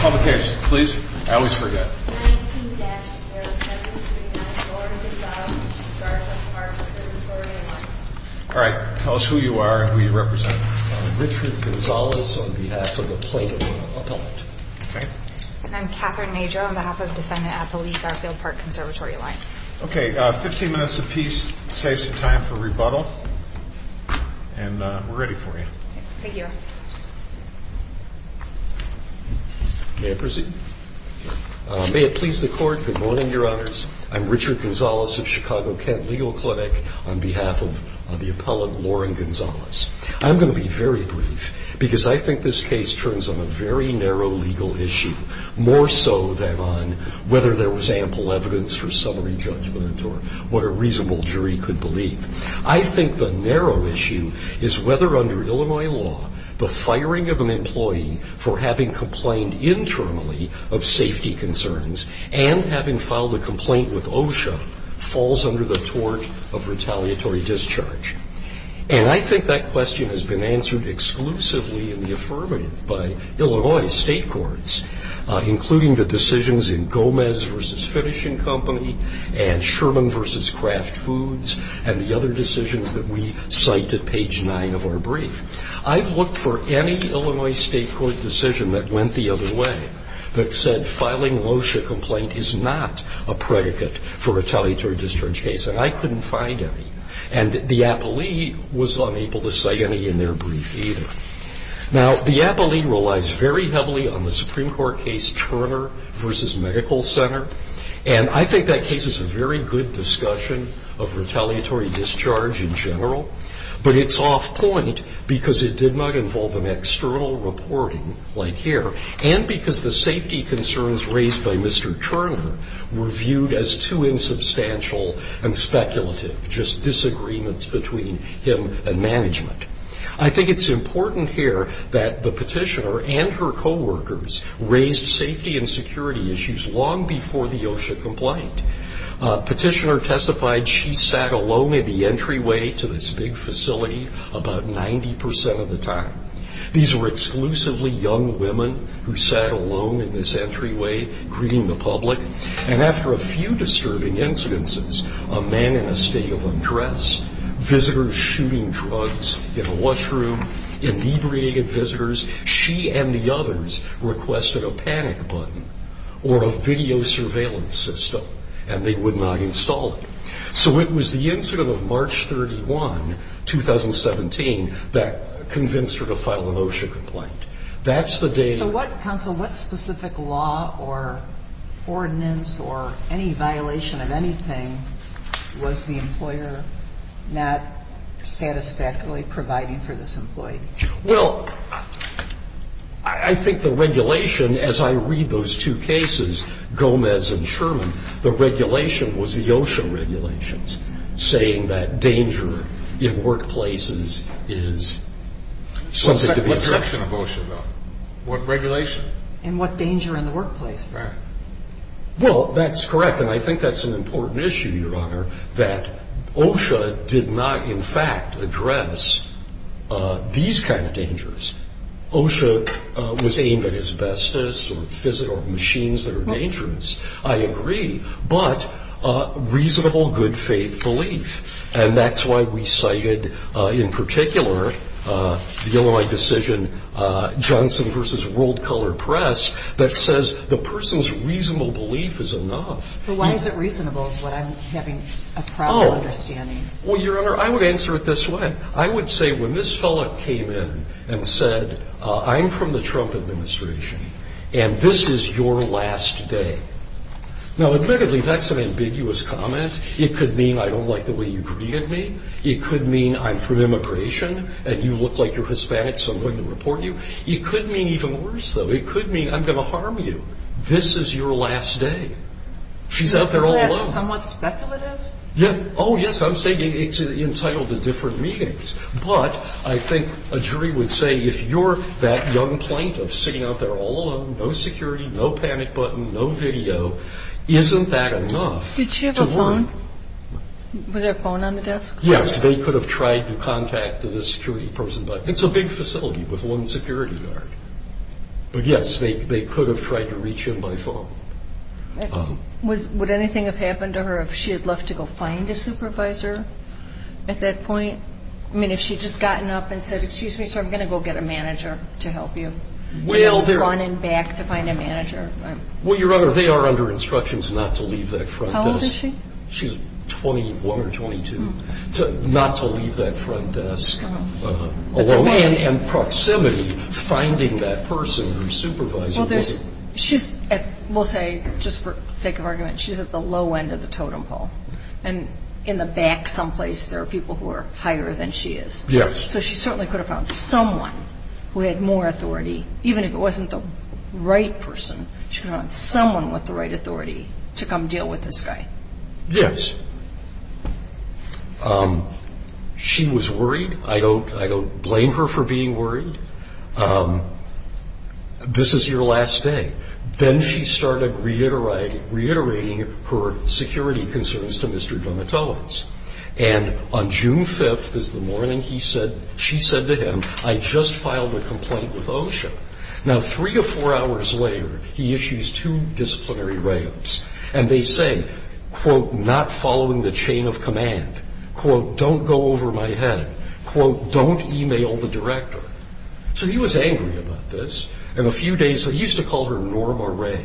Public case, please. I always forget. 19-0739 Gordon Gonzales, Garfield Park Conservatory Alliance Alright, tell us who you are and who you represent. I'm Richard Gonzales on behalf of the Plaintiff Appellant. And I'm Catherine Majo on behalf of Defendant Athlete Garfield Park Conservatory Alliance. Okay, 15 minutes apiece saves you time for rebuttal. And we're ready for you. Thank you. May I proceed? May it please the Court. Good morning, Your Honors. I'm Richard Gonzales of Chicago Kent Legal Clinic on behalf of the Appellant, Lauren Gonzales. I'm going to be very brief because I think this case turns on a very narrow legal issue, more so than on whether there was ample evidence for summary judgment or what a reasonable jury could believe. I think the narrow issue is whether under Illinois law, the firing of an employee for having complained internally of safety concerns and having filed a complaint with OSHA falls under the tort of retaliatory discharge. And I think that question has been answered exclusively in the affirmative by Illinois state courts, including the decisions in Gomez v. Finishing Company and Sherman v. Kraft Foods and the other decisions that we cite at page nine of our brief. I've looked for any Illinois state court decision that went the other way that said filing an OSHA complaint is not a predicate for a retaliatory discharge case. And I couldn't find any. And the appellee was unable to cite any in their brief either. Now, the appellee relies very heavily on the Supreme Court case Turner v. Medical Center. And I think that case is a very good discussion of retaliatory discharge in general. But it's off point because it did not involve an external reporting like here and because the safety concerns raised by Mr. Turner were viewed as too insubstantial and speculative, just disagreements between him and management. I think it's important here that the petitioner and her coworkers raised safety and security issues long before the OSHA complaint. Petitioner testified she sat alone at the entryway to this big facility about 90% of the time. These were exclusively young women who sat alone in this entryway greeting the public. And after a few disturbing incidences, a man in a state of undress, visitors shooting drugs in a washroom, inebriated visitors, she and the others requested a panic button or a video surveillance system. And they would not install it. So it was the incident of March 31, 2017, that convinced her to file an OSHA complaint. That's the data. So what, counsel, what specific law or ordinance or any violation of anything was the employer not satisfactorily providing for this employee? Well, I think the regulation, as I read those two cases, Gomez and Sherman, the regulation was the OSHA regulations saying that danger in workplaces is something to be expected. What regulation of OSHA, though? What regulation? And what danger in the workplace. Right. Well, that's correct, and I think that's an important issue, Your Honor, that OSHA did not, in fact, address these kind of dangers. OSHA was aimed at asbestos or machines that are dangerous, I agree, but reasonable, good faith belief. And that's why we cited, in particular, the Illinois decision, Johnson v. World Color Press, that says the person's reasonable belief is enough. But why is it reasonable is what I'm having a problem understanding. Well, Your Honor, I would answer it this way. I would say when this fellow came in and said, I'm from the Trump administration and this is your last day. Now, admittedly, that's an ambiguous comment. It could mean I don't like the way you treated me. It could mean I'm from immigration and you look like you're Hispanic so I'm going to report you. It could mean even worse, though. It could mean I'm going to harm you. This is your last day. She's out there all alone. Isn't that somewhat speculative? Yeah. Oh, yes, I was thinking it's entitled to different meanings. But I think a jury would say if you're that young plaintiff sitting out there all alone, no security, no panic button, no video, isn't that enough? Did she have a phone? Was there a phone on the desk? Yes. They could have tried to contact the security person. It's a big facility with one security guard. But, yes, they could have tried to reach in by phone. Would anything have happened to her if she had left to go find a supervisor at that point? I mean, if she had just gotten up and said, excuse me, sir, I'm going to go get a manager to help you, gone and back to find a manager. Well, Your Honor, they are under instructions not to leave that front desk. How old is she? She's 21 or 22. Not to leave that front desk alone. And proximity, finding that person or supervising them. She's at, we'll say, just for sake of argument, she's at the low end of the totem pole. And in the back someplace there are people who are higher than she is. Yes. So she certainly could have found someone who had more authority. Even if it wasn't the right person, she could have found someone with the right authority to come deal with this guy. Yes. She was worried. I don't blame her for being worried. This is your last day. Then she started reiterating her security concerns to Mr. Domitowicz. And on June 5th is the morning she said to him, I just filed a complaint with OSHA. Now, three or four hours later, he issues two disciplinary write-ups. And they say, quote, not following the chain of command. Quote, don't go over my head. Quote, don't e-mail the director. So he was angry about this. And a few days later, he used to call her Norma Ray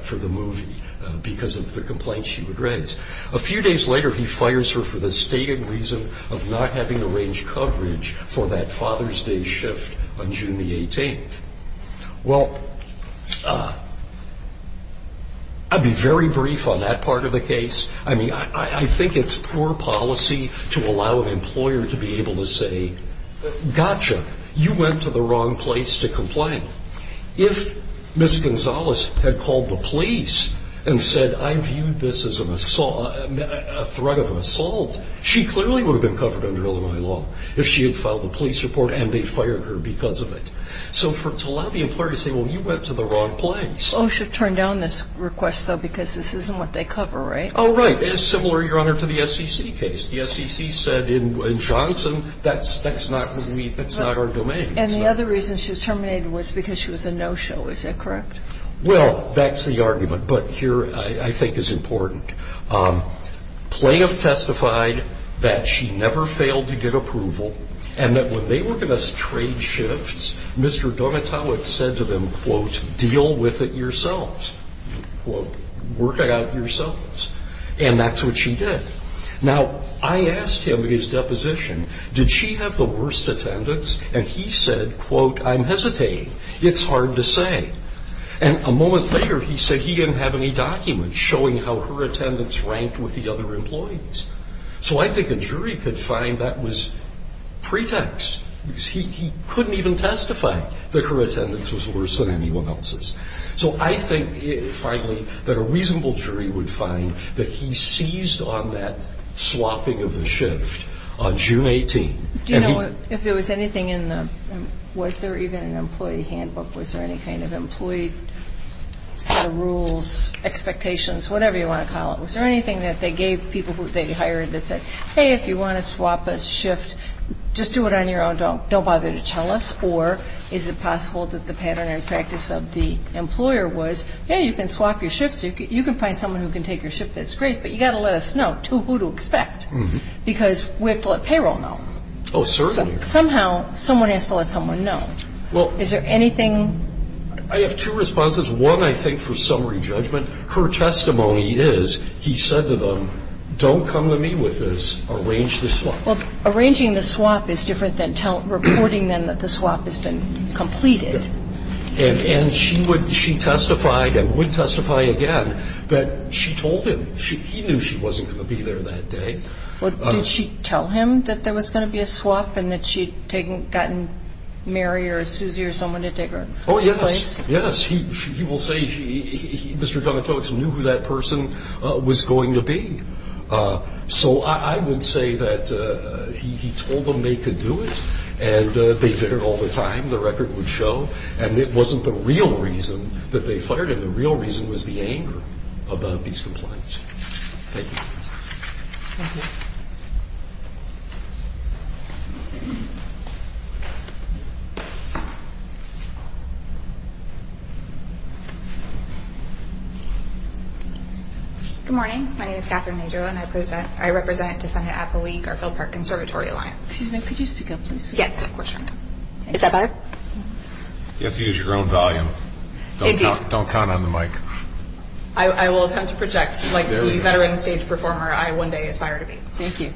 for the movie because of the complaints she would raise. A few days later, he fires her for the stated reason of not having arranged coverage for that Father's Day shift on June the 18th. Well, I'll be very brief on that part of the case. I mean, I think it's poor policy to allow an employer to be able to say, gotcha, you went to the wrong place to complain. If Ms. Gonzalez had called the police and said, I view this as a threat of assault, she clearly would have been covered under Illinois law if she had filed a police report and they fired her because of it. So to allow the employer to say, well, you went to the wrong place. OSHA turned down this request, though, because this isn't what they cover, right? Oh, right. It's similar, Your Honor, to the SEC case. The SEC said in Johnson, that's not our domain. And the other reason she was terminated was because she was a no-show. Is that correct? Well, that's the argument. But here, I think, is important. Playa testified that she never failed to get approval and that when they were going to trade shifts, Mr. Donatowicz said to them, quote, deal with it yourselves. Quote, work it out yourselves. And that's what she did. Now, I asked him in his deposition, did she have the worst attendance? And he said, quote, I'm hesitating. It's hard to say. And a moment later, he said he didn't have any documents showing how her attendance ranked with the other employees. So I think a jury could find that was pretext. He couldn't even testify that her attendance was worse than anyone else's. So I think, finally, that a reasonable jury would find that he seized on that swapping of the shift on June 18. Do you know if there was anything in the – was there even an employee handbook? Was there any kind of employee set of rules, expectations, whatever you want to call it? Was there anything that they gave people who they hired that said, hey, if you want to swap a shift, just do it on your own, don't bother to tell us? Or is it possible that the pattern and practice of the employer was, hey, you can swap your shifts, you can find someone who can take your shift, that's great, but you've got to let us know who to expect because we have to let payroll know. Oh, certainly. Somehow, someone has to let someone know. Is there anything? I have two responses. One, I think, for summary judgment. Her testimony is he said to them, don't come to me with this, arrange the swap. Well, arranging the swap is different than reporting then that the swap has been completed. And she testified and would testify again that she told him. He knew she wasn't going to be there that day. Did she tell him that there was going to be a swap and that she had gotten Mary or Susie or someone to take her place? Oh, yes, yes. He will say Mr. Donatoaks knew who that person was going to be. So I would say that he told them they could do it, and they did it all the time, the record would show, and it wasn't the real reason that they fired him. The real reason was the anger about these complaints. Thank you. Thank you. Good morning. My name is Catherine Nadeau, and I represent Defendant Appleweek, our Field Park Conservatory Alliance. Excuse me. Could you speak up, please? Yes, of course. Is that better? You have to use your own volume. Don't count on the mic. I will attempt to project like the veteran stage performer I one day aspire to be. Thank you.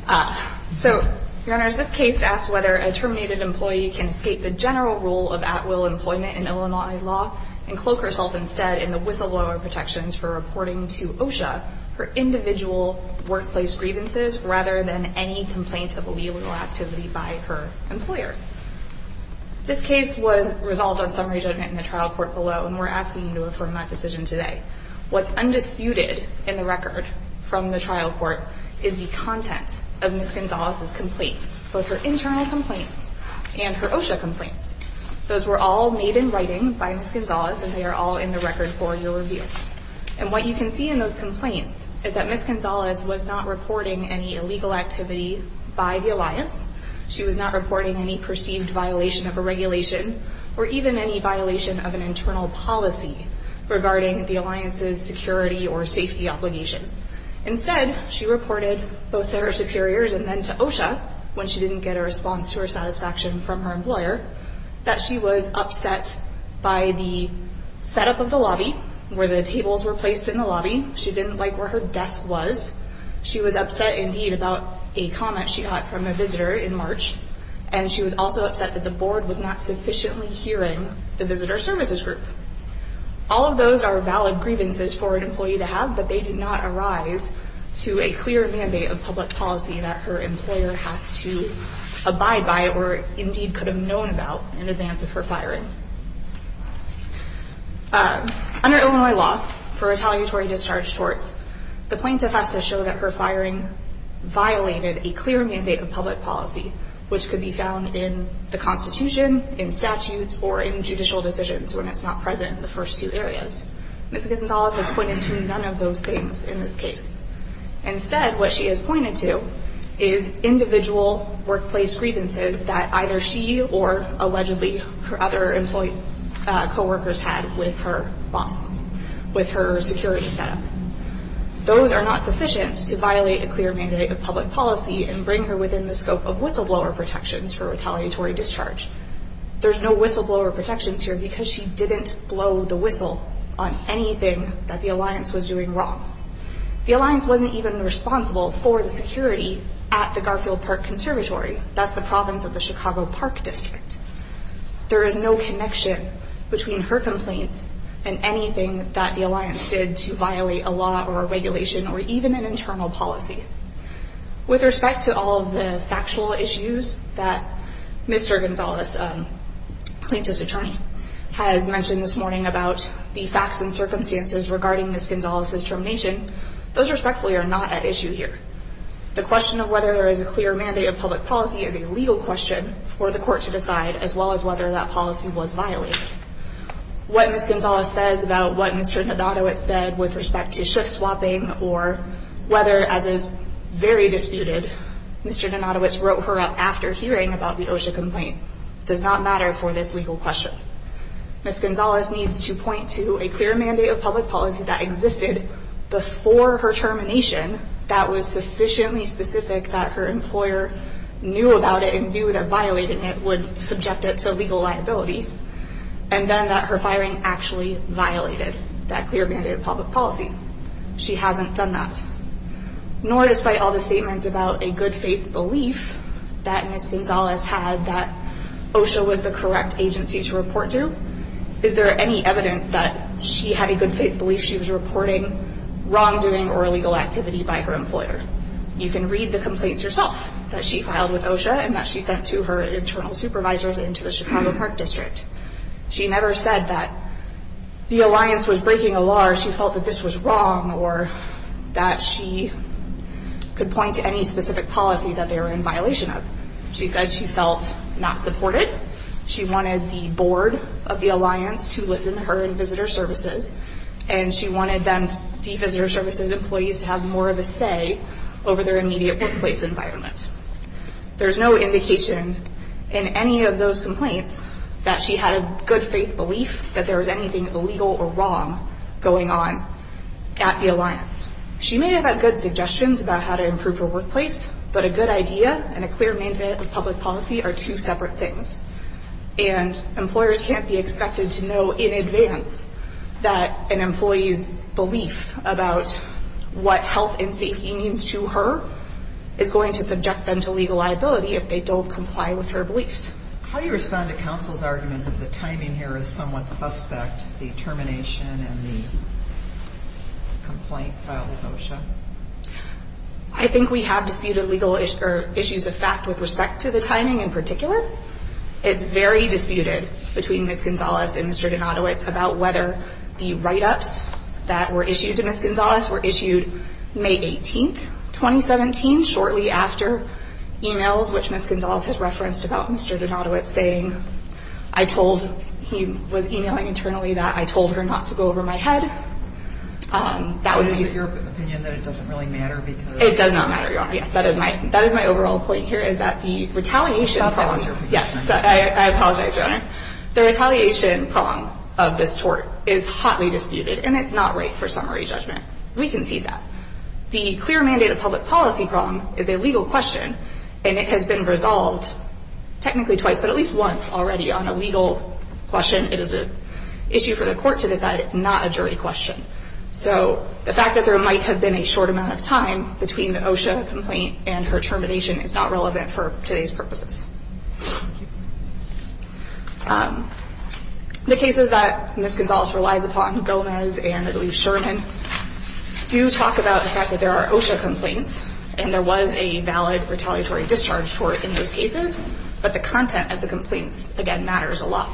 So, Your Honors, this case asks whether a terminated employee can escape the general rule of at-will employment in Illinois law and cloak herself instead in the whistleblower protections for reporting to OSHA her individual workplace grievances rather than any complaint of illegal activity by her employer. This case was resolved on summary judgment in the trial court below, and we're asking you to affirm that decision today. What's undisputed in the record from the trial court is the content of Ms. Gonzalez's complaints, both her internal complaints and her OSHA complaints. Those were all made in writing by Ms. Gonzalez, and they are all in the record for your review. And what you can see in those complaints is that Ms. Gonzalez was not reporting any illegal activity by the Alliance. She was not reporting any perceived violation of a regulation or even any violation of an internal policy regarding the Alliance's security or safety obligations. Instead, she reported both to her superiors and then to OSHA, when she didn't get a response to her satisfaction from her employer, that she was upset by the setup of the lobby, where the tables were placed in the lobby. She didn't like where her desk was. She was upset, indeed, about a comment she got from a visitor in March, and she was also upset that the board was not sufficiently hearing the visitor services group. All of those are valid grievances for an employee to have, but they do not arise to a clear mandate of public policy that her employer has to abide by or indeed could have known about in advance of her firing. Under Illinois law, for retaliatory discharge torts, the plaintiff has to show that her firing violated a clear mandate of public policy, which could be found in the Constitution, in statutes, or in judicial decisions when it's not present in the first two areas. Ms. Gonzalez has pointed to none of those things in this case. Instead, what she has pointed to is individual workplace grievances that either she or, allegedly, her other employee co-workers had with her boss, with her security setup. Those are not sufficient to violate a clear mandate of public policy and bring her within the scope of whistleblower protections for retaliatory discharge. There's no whistleblower protections here because she didn't blow the whistle on anything that the alliance was doing wrong. The alliance wasn't even responsible for the security at the Garfield Park Conservatory. That's the province of the Chicago Park District. There is no connection between her complaints and anything that the alliance did to violate a law or a regulation or even an internal policy. With respect to all of the factual issues that Mr. Gonzalez, plaintiff's attorney, has mentioned this morning about the facts and circumstances regarding Ms. Gonzalez's termination, those respectfully are not at issue here. The question of whether there is a clear mandate of public policy is a legal question for the court to decide, as well as whether that policy was violated. What Ms. Gonzalez says about what Mr. Donatowicz said with respect to shift swapping or whether, as is very disputed, Mr. Donatowicz wrote her up after hearing about the OSHA complaint does not matter for this legal question. Ms. Gonzalez needs to point to a clear mandate of public policy that existed before her termination that was sufficiently specific that her employer knew about it and knew that violating it would subject it to legal liability and then that her firing actually violated that clear mandate of public policy. She hasn't done that. Nor, despite all the statements about a good faith belief that Ms. Gonzalez had that OSHA was the correct agency to report to, is there any evidence that she had a good faith belief she was reporting wrongdoing or illegal activity by her employer? You can read the complaints yourself that she filed with OSHA and that she sent to her internal supervisors and to the Chicago Park District. She never said that the alliance was breaking a law or she felt that this was wrong or that she could point to any specific policy that they were in violation of. She said she felt not supported. She wanted the board of the alliance to listen to her in visitor services and she wanted the visitor services employees to have more of a say over their immediate workplace environment. There's no indication in any of those complaints that she had a good faith belief that there was anything illegal or wrong going on at the alliance. She may have had good suggestions about how to improve her workplace, but a good idea and a clear mandate of public policy are two separate things. And employers can't be expected to know in advance that an employee's belief about what health and safety means to her is going to subject them to legal liability if they don't comply with her beliefs. How do you respond to counsel's argument that the timing here is somewhat suspect, the termination and the complaint filed with OSHA? I think we have disputed issues of fact with respect to the timing in particular. It's very disputed between Ms. Gonzalez and Mr. Donatowicz about whether the write-ups that were issued to Ms. Gonzalez were issued May 18th, 2017, shortly after emails which Ms. Gonzalez had referenced about Mr. Donatowicz saying he was emailing internally that I told her not to go over my head. Is it your opinion that it doesn't really matter? It does not matter, Your Honor. Yes, that is my overall point here is that the retaliation prong of this tort is hotly disputed and it's not right for summary judgment. We concede that. The clear mandate of public policy prong is a legal question and it has been resolved technically twice, but at least once already on a legal question. It is an issue for the court to decide. It's not a jury question. So the fact that there might have been a short amount of time between the OSHA complaint and her termination is not relevant for today's purposes. The cases that Ms. Gonzalez relies upon, Gomez and I believe Sherman, do talk about the fact that there are OSHA complaints and there was a valid retaliatory discharge tort in those cases, but the content of the complaints, again, matters a lot.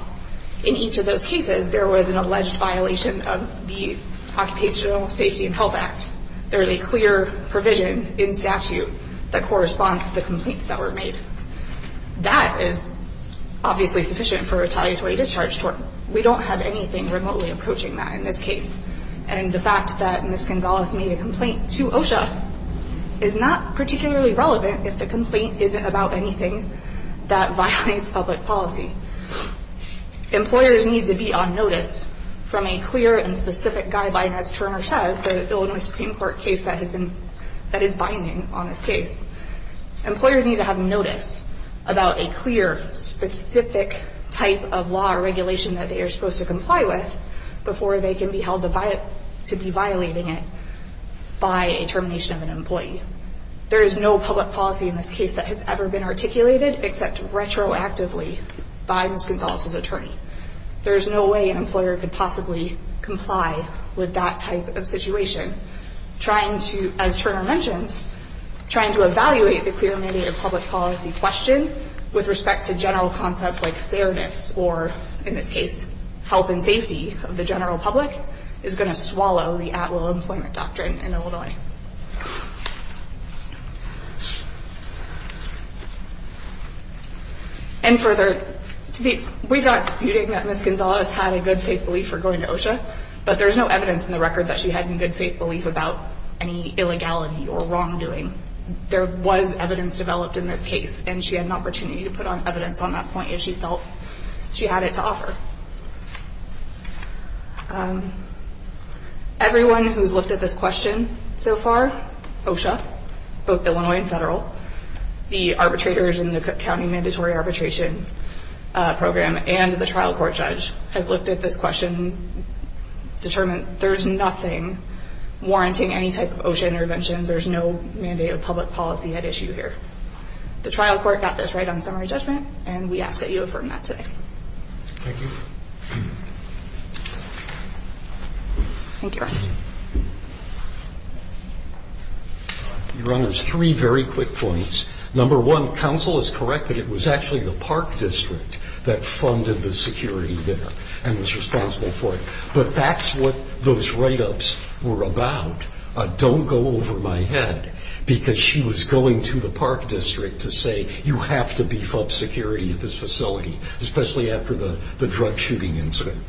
In each of those cases, there was an alleged violation of the Occupational Safety and Health Act. There is a clear provision in statute that corresponds to the complaints that were made. That is obviously sufficient for retaliatory discharge tort. We don't have anything remotely approaching that in this case. And the fact that Ms. Gonzalez made a complaint to OSHA is not particularly relevant if the complaint isn't about anything that violates public policy. Employers need to be on notice from a clear and specific guideline, as Turner says, the Illinois Supreme Court case that is binding on this case. Employers need to have notice about a clear, specific type of law or regulation that they are supposed to comply with before they can be held to be violating it by a termination of an employee. There is no public policy in this case that has ever been articulated except retroactively by Ms. Gonzalez's attorney. There is no way an employer could possibly comply with that type of situation. Trying to, as Turner mentions, trying to evaluate the clear and mediated public policy question with respect to general concepts like fairness or, in this case, health and safety of the general public, is going to swallow the at-will employment doctrine in Illinois. And further, we got disputing that Ms. Gonzalez had a good faith belief for going to OSHA, but there is no evidence in the record that she had any good faith belief about any illegality or wrongdoing. There was evidence developed in this case, and she had an opportunity to put on evidence on that point if she felt she had it to offer. Everyone who has looked at this question so far, OSHA, both Illinois and federal, the arbitrators in the Cook County Mandatory Arbitration Program, and the trial court judge has looked at this question, determined there is nothing warranting any type of OSHA intervention. There is no mandate of public policy at issue here. The trial court got this right on summary judgment, and we ask that you affirm that today. Thank you. Your Honor, there's three very quick points. Number one, counsel is correct that it was actually the Park District that funded the security there and was responsible for it, but that's what those write-ups were about. Don't go over my head, because she was going to the Park District to say, you have to beef up security at this facility, especially after the drug shooting incident.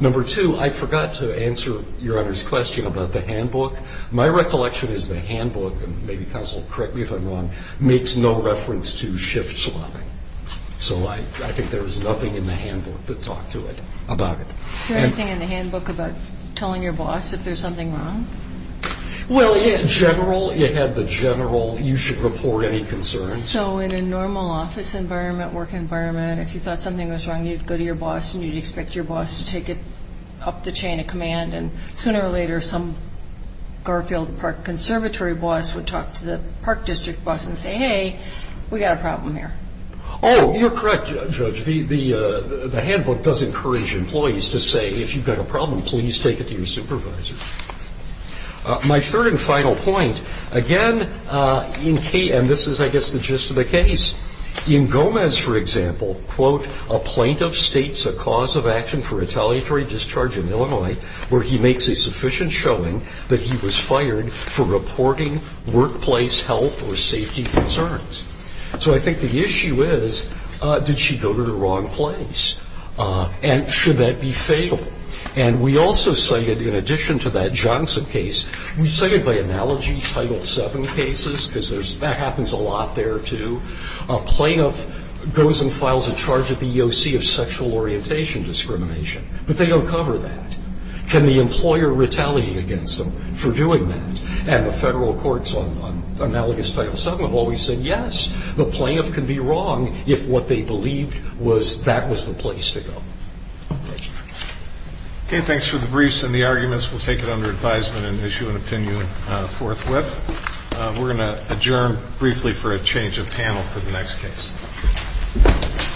Number two, I forgot to answer Your Honor's question about the handbook. My recollection is the handbook, and maybe counsel will correct me if I'm wrong, makes no reference to shift swapping. So I think there was nothing in the handbook that talked to it about it. Is there anything in the handbook about telling your boss if there's something wrong? Well, in general, you have the general, you should report any concerns. So in a normal office environment, work environment, if you thought something was wrong, you'd go to your boss and you'd expect your boss to take it up the chain of command, and sooner or later some Garfield Park Conservatory boss would talk to the Park District boss and say, hey, we've got a problem here. Oh, you're correct, Judge. The handbook does encourage employees to say, if you've got a problem, please take it to your supervisor. My third and final point, again, and this is, I guess, the gist of the case. In Gomez, for example, quote, a plaintiff states a cause of action for retaliatory discharge in Illinois where he makes a sufficient showing that he was fired for reporting workplace health or safety concerns. So I think the issue is, did she go to the wrong place? And should that be fatal? And we also cited, in addition to that Johnson case, we cited by analogy Title VII cases, because that happens a lot there, too. A plaintiff goes and files a charge at the EOC of sexual orientation discrimination, but they don't cover that. Can the employer retaliate against them for doing that? And the federal courts on analogous Title VII have always said yes. The plaintiff can be wrong if what they believed was that was the place to go. Thank you. Okay, thanks for the briefs and the arguments. We'll take it under advisement and issue an opinion forthwith. We're going to adjourn briefly for a change of panel for the next case.